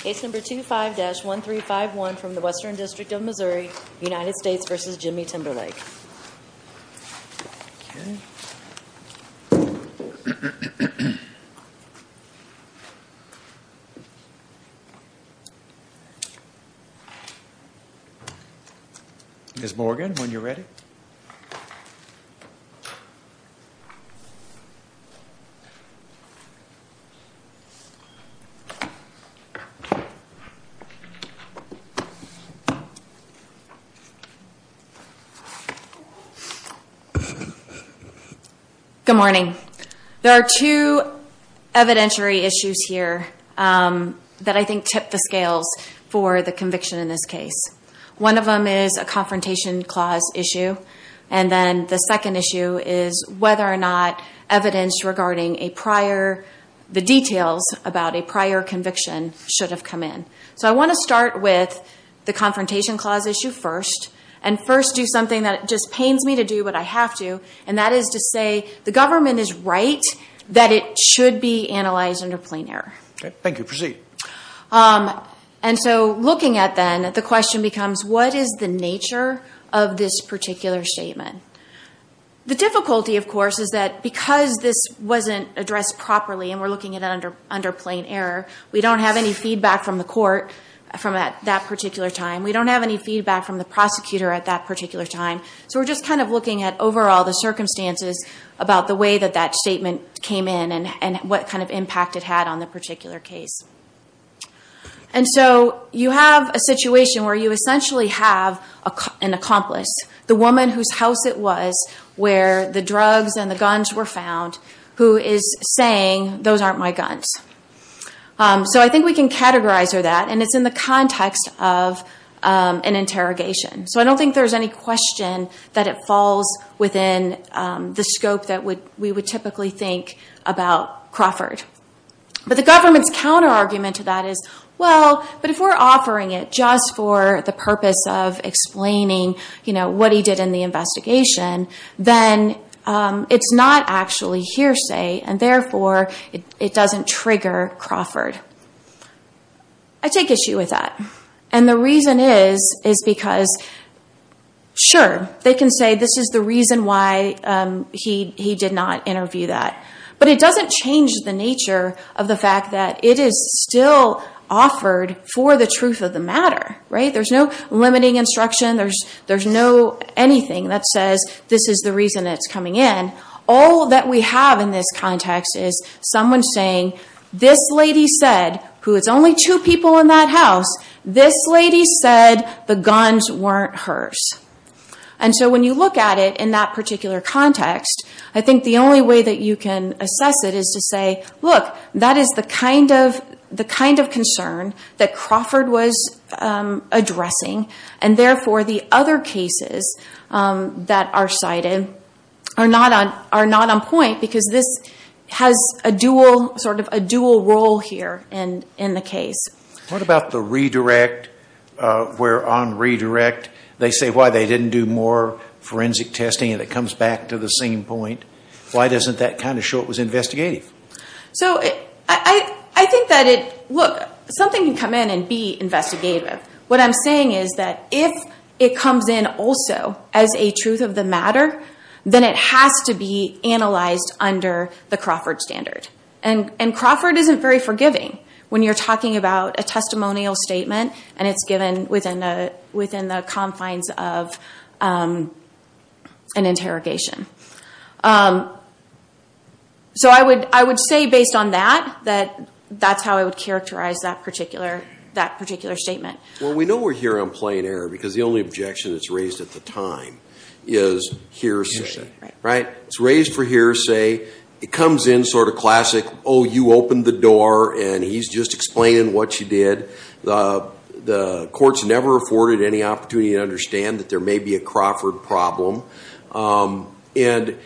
Case number 25-1351 from the Western District of Missouri, United States v. Jimmy Timberlake. Ms. Morgan, when you're ready. Good morning. There are two evidentiary issues here that I think tip the scales for the conviction in this case. One of them is a Confrontation Clause issue. And then the second issue is whether or not evidence regarding the details about a prior conviction should have come in. So I want to start with the Confrontation Clause issue first. And first do something that just pains me to do, but I have to. And that is to say the government is right that it should be analyzed under plain error. Thank you. Proceed. And so looking at that, the question becomes, what is the nature of this particular statement? The difficulty, of course, is that because this wasn't addressed properly and we're looking at it under plain error, we don't have any feedback from the court from that particular time. We don't have any feedback from the prosecutor at that particular time. So we're just kind of looking at overall the circumstances about the way that that statement came in and what kind of impact it had on the particular case. And so you have a situation where you essentially have an accomplice, the woman whose house it was where the drugs and the guns were found, who is saying, those aren't my guns. So I think we can categorize her that, and it's in the context of an interrogation. So I don't think there's any question that it falls within the scope that we would typically think about Crawford. But the government's counter-argument to that is, well, but if we're offering it just for the purpose of explaining what he did in the investigation, then it's not actually hearsay, and therefore it doesn't trigger Crawford. I take issue with that. And the reason is because, sure, they can say this is the reason why he did not interview that. But it doesn't change the nature of the fact that it is still offered for the truth of the matter. There's no limiting instruction. There's no anything that says this is the reason it's coming in. All that we have in this context is someone saying, this lady said, who it's only two people in that house, this lady said the guns weren't hers. And so when you look at it in that particular context, I think the only way that you can assess it is to say, look, that is the kind of concern that Crawford was addressing. And therefore, the other cases that are cited are not on point because this has a dual role here in the case. What about the redirect, where on redirect they say why they didn't do more forensic testing, and it comes back to the same point? Why doesn't that kind of show it was investigative? So I think that it, look, something can come in and be investigative. What I'm saying is that if it comes in also as a truth of the matter, then it has to be analyzed under the Crawford standard. And Crawford isn't very forgiving when you're talking about a testimonial statement, and it's given within the confines of an interrogation. So I would say based on that, that that's how I would characterize that particular statement. Well, we know we're here on plain error because the only objection that's raised at the time is hearsay. Right? It's raised for hearsay. It comes in sort of classic, oh, you opened the door, and he's just explaining what you did. The court's never afforded any opportunity to understand that there may be a Crawford problem. And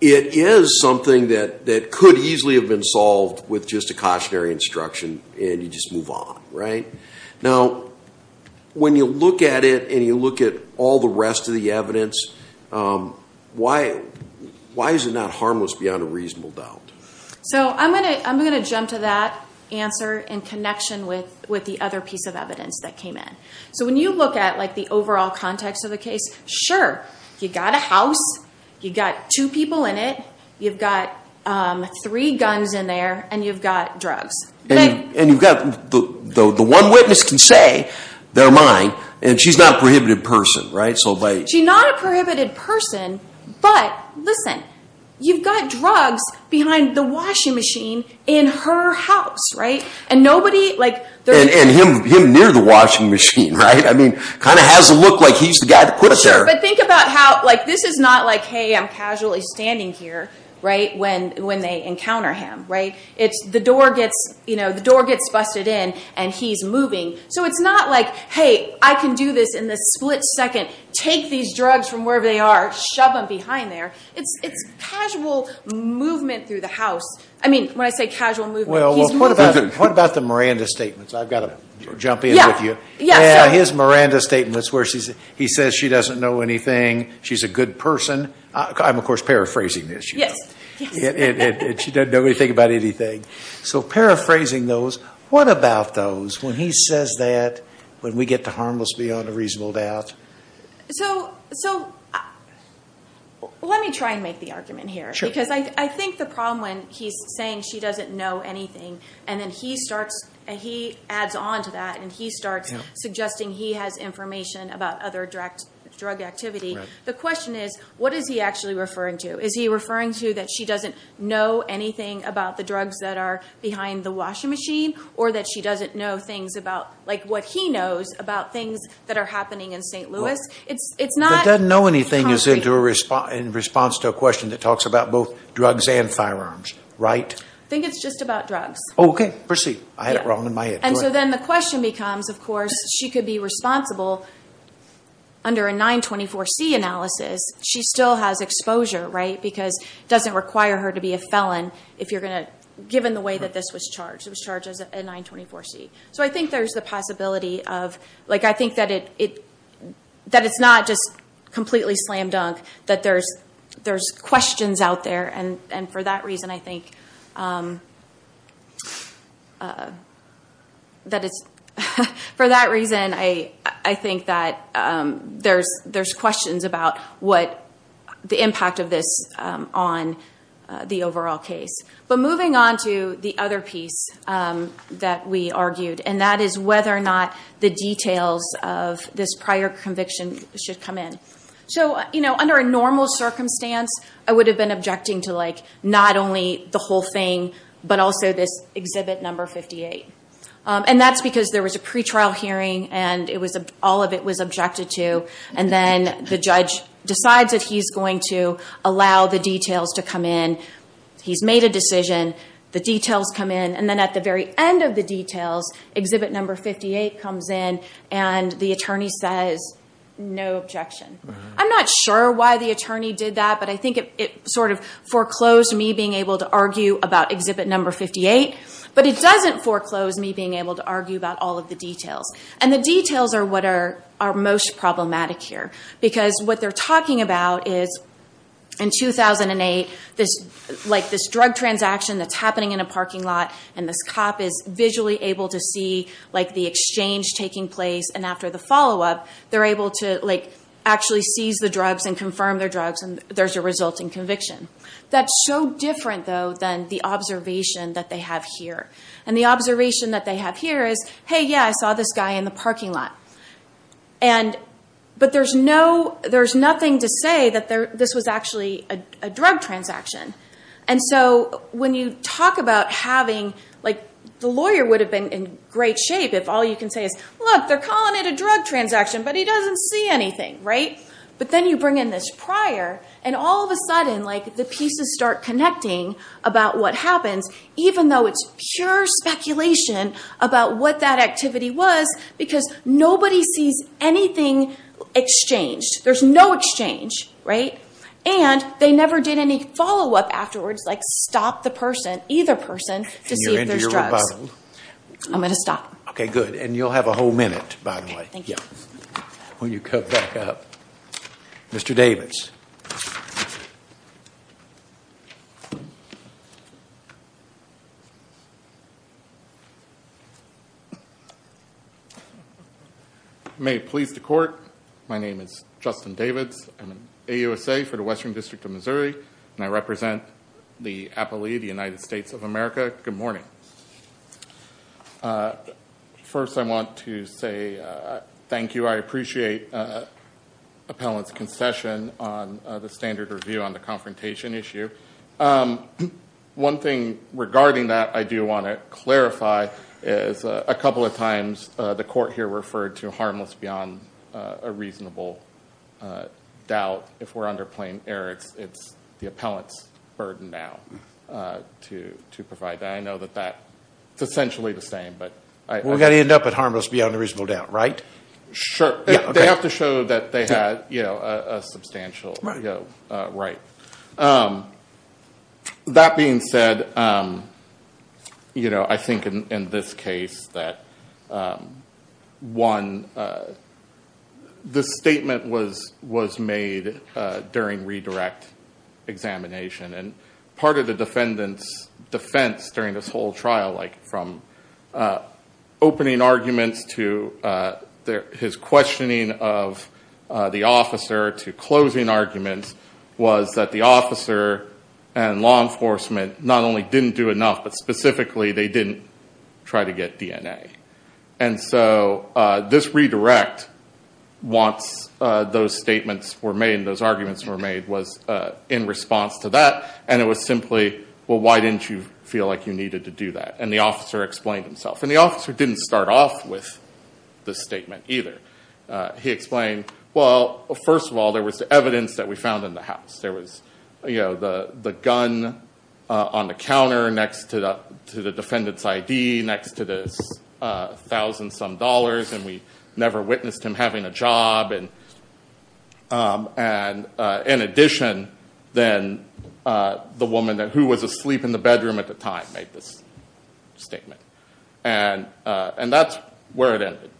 it is something that could easily have been solved with just a cautionary instruction, and you just move on. Right? Now, when you look at it and you look at all the rest of the evidence, why is it not harmless beyond a reasonable doubt? So I'm going to jump to that answer in connection with the other piece of evidence that came in. So when you look at, like, the overall context of the case, sure, you've got a house. You've got two people in it. You've got three guns in there, and you've got drugs. And you've got the one witness can say, they're mine, and she's not a prohibited person. Right? She's not a prohibited person, but listen, you've got drugs behind the washing machine in her house. Right? And him near the washing machine, right? I mean, kind of has to look like he's the guy that put it there. Sure, but think about how, like, this is not like, hey, I'm casually standing here, right, when they encounter him. Right? It's the door gets busted in, and he's moving. So it's not like, hey, I can do this in the split second, take these drugs from wherever they are, shove them behind there. It's casual movement through the house. I mean, when I say casual movement, he's moving. What about the Miranda statements? I've got to jump in with you. Yeah, sure. Yeah, his Miranda statements where he says she doesn't know anything, she's a good person. I'm, of course, paraphrasing this, you know. Yes, yes. And she doesn't know anything about anything. So paraphrasing those, what about those when he says that, when we get to harmless beyond a reasonable doubt? So let me try and make the argument here. Because I think the problem when he's saying she doesn't know anything, and then he starts, and he adds on to that, and he starts suggesting he has information about other drug activity. The question is, what is he actually referring to? Is he referring to that she doesn't know anything about the drugs that are behind the washing machine, or that she doesn't know things about, like, what he knows about things that are happening in St. Louis? It's not concrete. That doesn't know anything is in response to a question that talks about both drugs and firearms, right? I think it's just about drugs. Okay, proceed. I had it wrong in my head. Go ahead. So then the question becomes, of course, she could be responsible under a 924C analysis. She still has exposure, right? Because it doesn't require her to be a felon if you're going to, given the way that this was charged. It was charged as a 924C. So I think there's the possibility of, like, I think that it's not just completely slam dunk, that there's questions out there. And for that reason, I think that there's questions about what the impact of this on the overall case. But moving on to the other piece that we argued, and that is whether or not the details of this prior conviction should come in. So, you know, under a normal circumstance, I would have been objecting to, like, not only the whole thing, but also this exhibit number 58. And that's because there was a pretrial hearing, and all of it was objected to. And then the judge decides that he's going to allow the details to come in. He's made a decision. The details come in. And then at the very end of the details, exhibit number 58 comes in, and the attorney says, no objection. I'm not sure why the attorney did that, but I think it sort of foreclosed me being able to argue about exhibit number 58. But it doesn't foreclose me being able to argue about all of the details. And the details are what are most problematic here. Because what they're talking about is, in 2008, like, this drug transaction that's happening in a parking lot, and this cop is visually able to see, like, the exchange taking place. And after the follow-up, they're able to, like, actually seize the drugs and confirm their drugs, and there's a resulting conviction. That's so different, though, than the observation that they have here. And the observation that they have here is, hey, yeah, I saw this guy in the parking lot. But there's nothing to say that this was actually a drug transaction. And so when you talk about having, like, the lawyer would have been in great shape if all you can say is, look, they're calling it a drug transaction, but he doesn't see anything, right? But then you bring in this prior, and all of a sudden, like, the pieces start connecting about what happens, even though it's pure speculation about what that activity was. Because nobody sees anything exchanged. There's no exchange, right? And they never did any follow-up afterwards, like, stop the person, either person, to see if there's drugs. I'm going to stop. Okay, good. And you'll have a whole minute, by the way. Thank you. When you come back up. Mr. Davids. May it please the Court, my name is Justin Davids. I'm an AUSA for the Western District of Missouri, and I represent the Appalachian United States of America. Good morning. First, I want to say thank you. I appreciate Appellant's concession on the standard review on the confrontation issue. One thing regarding that I do want to clarify is a couple of times the Court here referred to harmless beyond a reasonable doubt. If we're under plain error, it's the Appellant's burden now to provide that. And I know that that's essentially the same. We've got to end up with harmless beyond a reasonable doubt, right? Sure. They have to show that they had a substantial right. That being said, I think in this case that, one, the statement was made during redirect examination. And part of the defendant's defense during this whole trial, like from opening arguments to his questioning of the officer to closing arguments, was that the officer and law enforcement not only didn't do enough, but specifically they didn't try to get DNA. And so this redirect, once those statements were made and those arguments were made, was in response to that. And it was simply, well, why didn't you feel like you needed to do that? And the officer explained himself. And the officer didn't start off with the statement either. He explained, well, first of all, there was evidence that we found in the house. There was the gun on the counter next to the defendant's ID, next to this thousand-some dollars, and we never witnessed him having a job. And in addition, then the woman who was asleep in the bedroom at the time made this statement. And that's where it ended.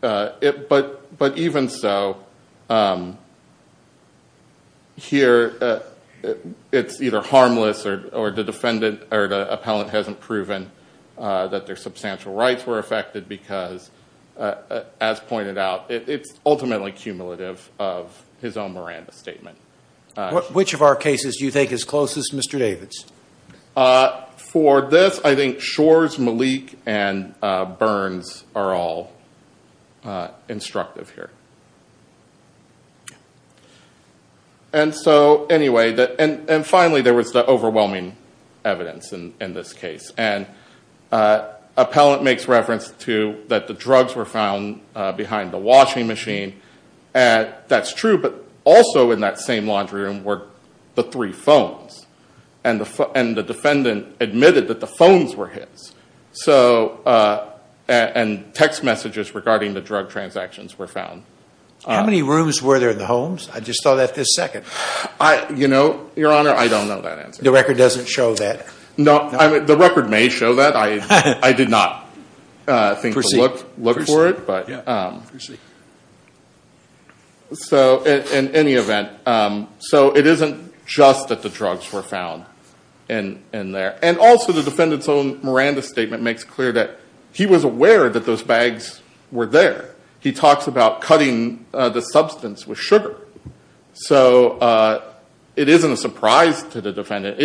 But even so, here it's either harmless or the defendant or the appellant hasn't proven that their substantial rights were affected because, as pointed out, it's ultimately cumulative of his own Miranda statement. Which of our cases do you think is closest to Mr. David's? For this, I think Shores, Malik, and Burns are all instructive here. And so anyway, and finally there was the overwhelming evidence in this case. And appellant makes reference to that the drugs were found behind the washing machine. That's true, but also in that same laundry room were the three phones. And the defendant admitted that the phones were his. And text messages regarding the drug transactions were found. How many rooms were there in the homes? I just saw that this second. You know, Your Honor, I don't know that answer. The record doesn't show that. No, the record may show that. I did not think to look for it. Proceed. So in any event, so it isn't just that the drugs were found in there. And also the defendant's own Miranda statement makes clear that he was aware that those bags were there. He talks about cutting the substance with sugar. So it isn't a surprise to the defendant.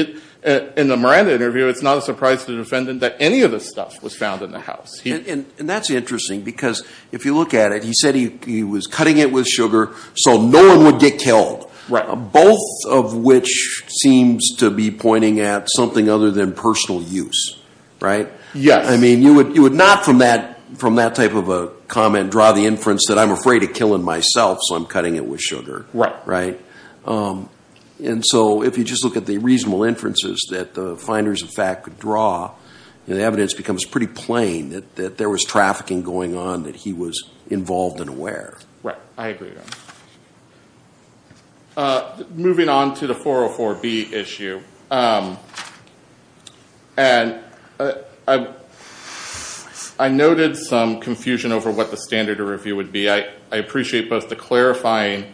In the Miranda interview, it's not a surprise to the defendant that any of this stuff was found in the house. And that's interesting because if you look at it, he said he was cutting it with sugar so no one would get killed, both of which seems to be pointing at something other than personal use, right? Yes. I mean, you would not from that type of a comment draw the inference that I'm afraid of killing myself, so I'm cutting it with sugar. Right. And so if you just look at the reasonable inferences that the finders of fact could draw, the evidence becomes pretty plain that there was trafficking going on, that he was involved and aware. Right. I agree. Moving on to the 404B issue, and I noted some confusion over what the standard of review would be. I appreciate both the clarifying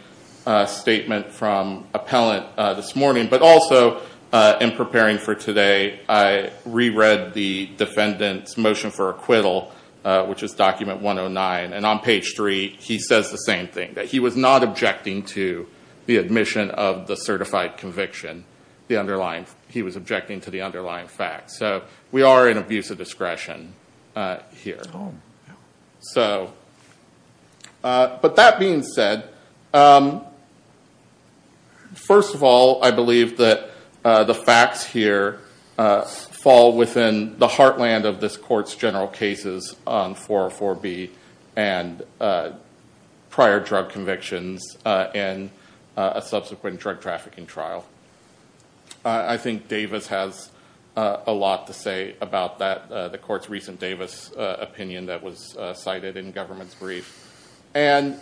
statement from appellant this morning, but also in preparing for today, I reread the defendant's motion for acquittal, which is document 109. And on page three, he says the same thing, that he was not objecting to the admission of the certified conviction. He was objecting to the underlying facts. So we are in abuse of discretion here. Oh, yeah. But that being said, first of all, I believe that the facts here fall within the heartland of this court's general cases on 404B and prior drug convictions in a subsequent drug trafficking trial. I think Davis has a lot to say about that, the court's recent Davis opinion that was cited in government's brief. And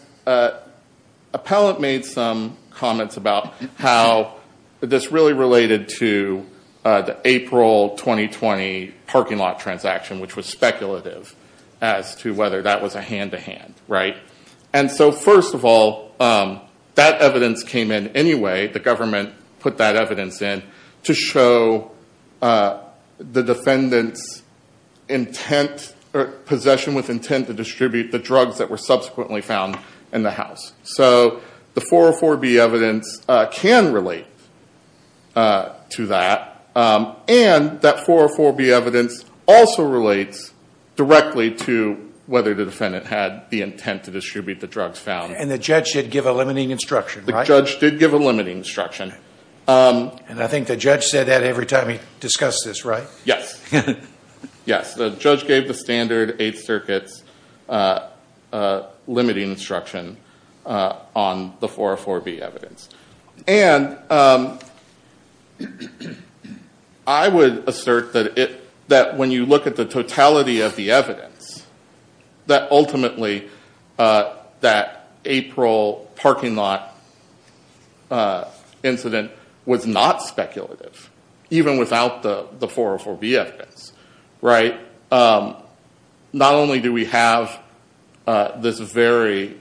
appellant made some comments about how this really related to the April 2020 parking lot transaction, which was speculative as to whether that was a hand to hand. Right. And so, first of all, that evidence came in anyway. The government put that evidence in to show the defendant's intent or possession with intent to distribute the drugs that were subsequently found in the house. So the 404B evidence can relate to that. And that 404B evidence also relates directly to whether the defendant had the intent to distribute the drugs found. And the judge did give a limiting instruction, right? The judge did give a limiting instruction. And I think the judge said that every time he discussed this, right? Yes. Yes. The judge gave the standard Eighth Circuit's limiting instruction on the 404B evidence. And I would assert that when you look at the totality of the evidence, that ultimately that April parking lot incident was not speculative, even without the 404B evidence, right? Not only do we have this very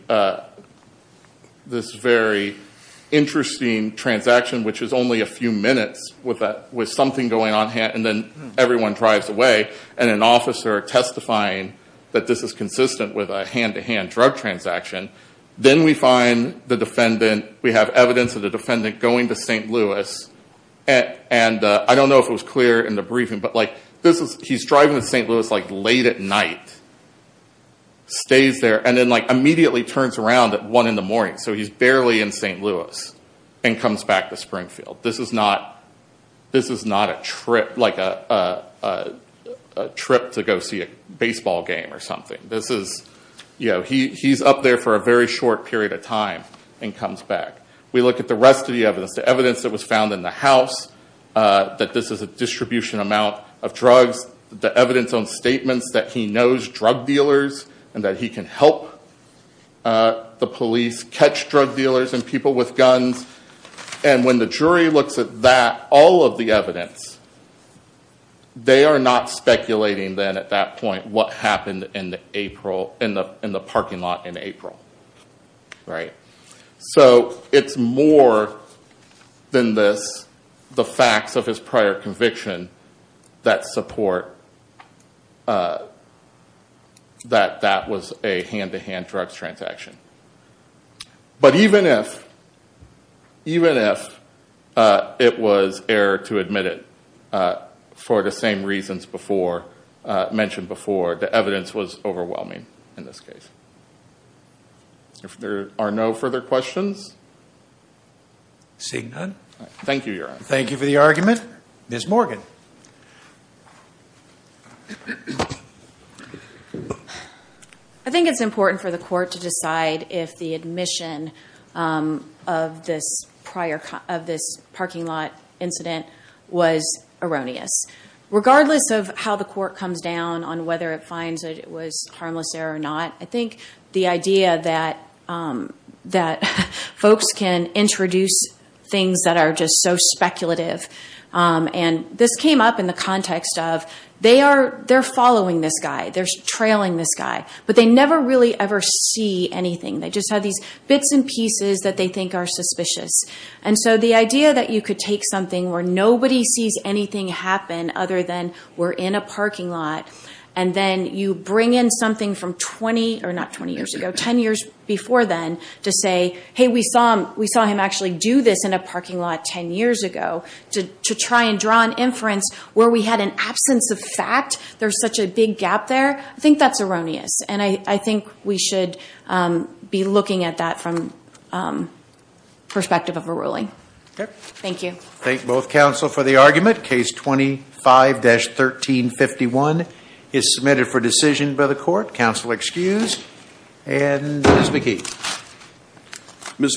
interesting transaction, which is only a few minutes with something going on. And then everyone drives away and an officer testifying that this is consistent with a hand to hand drug transaction. Then we find the defendant. We have evidence of the defendant going to St. Louis. And I don't know if it was clear in the briefing. But he's driving to St. Louis late at night, stays there, and then immediately turns around at 1 in the morning. So he's barely in St. Louis and comes back to Springfield. This is not a trip to go see a baseball game or something. He's up there for a very short period of time and comes back. We look at the rest of the evidence. The evidence that was found in the house, that this is a distribution amount of drugs. The evidence on statements that he knows drug dealers and that he can help the police catch drug dealers and people with guns. And when the jury looks at that, all of the evidence, they are not speculating then at that point what happened in the parking lot in April, right? So it's more than this, the facts of his prior conviction that support that that was a hand to hand drug transaction. But even if it was error to admit it for the same reasons mentioned before, the evidence was overwhelming in this case. If there are no further questions. Seeing none. Thank you, Your Honor. Thank you for the argument. Ms. Morgan. I think it's important for the court to decide if the admission of this parking lot incident was erroneous. Regardless of how the court comes down on whether it finds that it was harmless error or not, I think the idea that folks can introduce things that are just so speculative. And this came up in the context of they're following this guy. They're trailing this guy. But they never really ever see anything. They just have these bits and pieces that they think are suspicious. And so the idea that you could take something where nobody sees anything happen other than we're in a parking lot. And then you bring in something from 20, or not 20 years ago, 10 years before then to say, hey, we saw him actually do this in a parking lot 10 years ago. To try and draw an inference where we had an absence of fact. There's such a big gap there. I think that's erroneous. And I think we should be looking at that from the perspective of a ruling. Thank you. Thank both counsel for the argument. Case 25-1351 is submitted for decision by the court. Counsel excused. And Ms. McKee.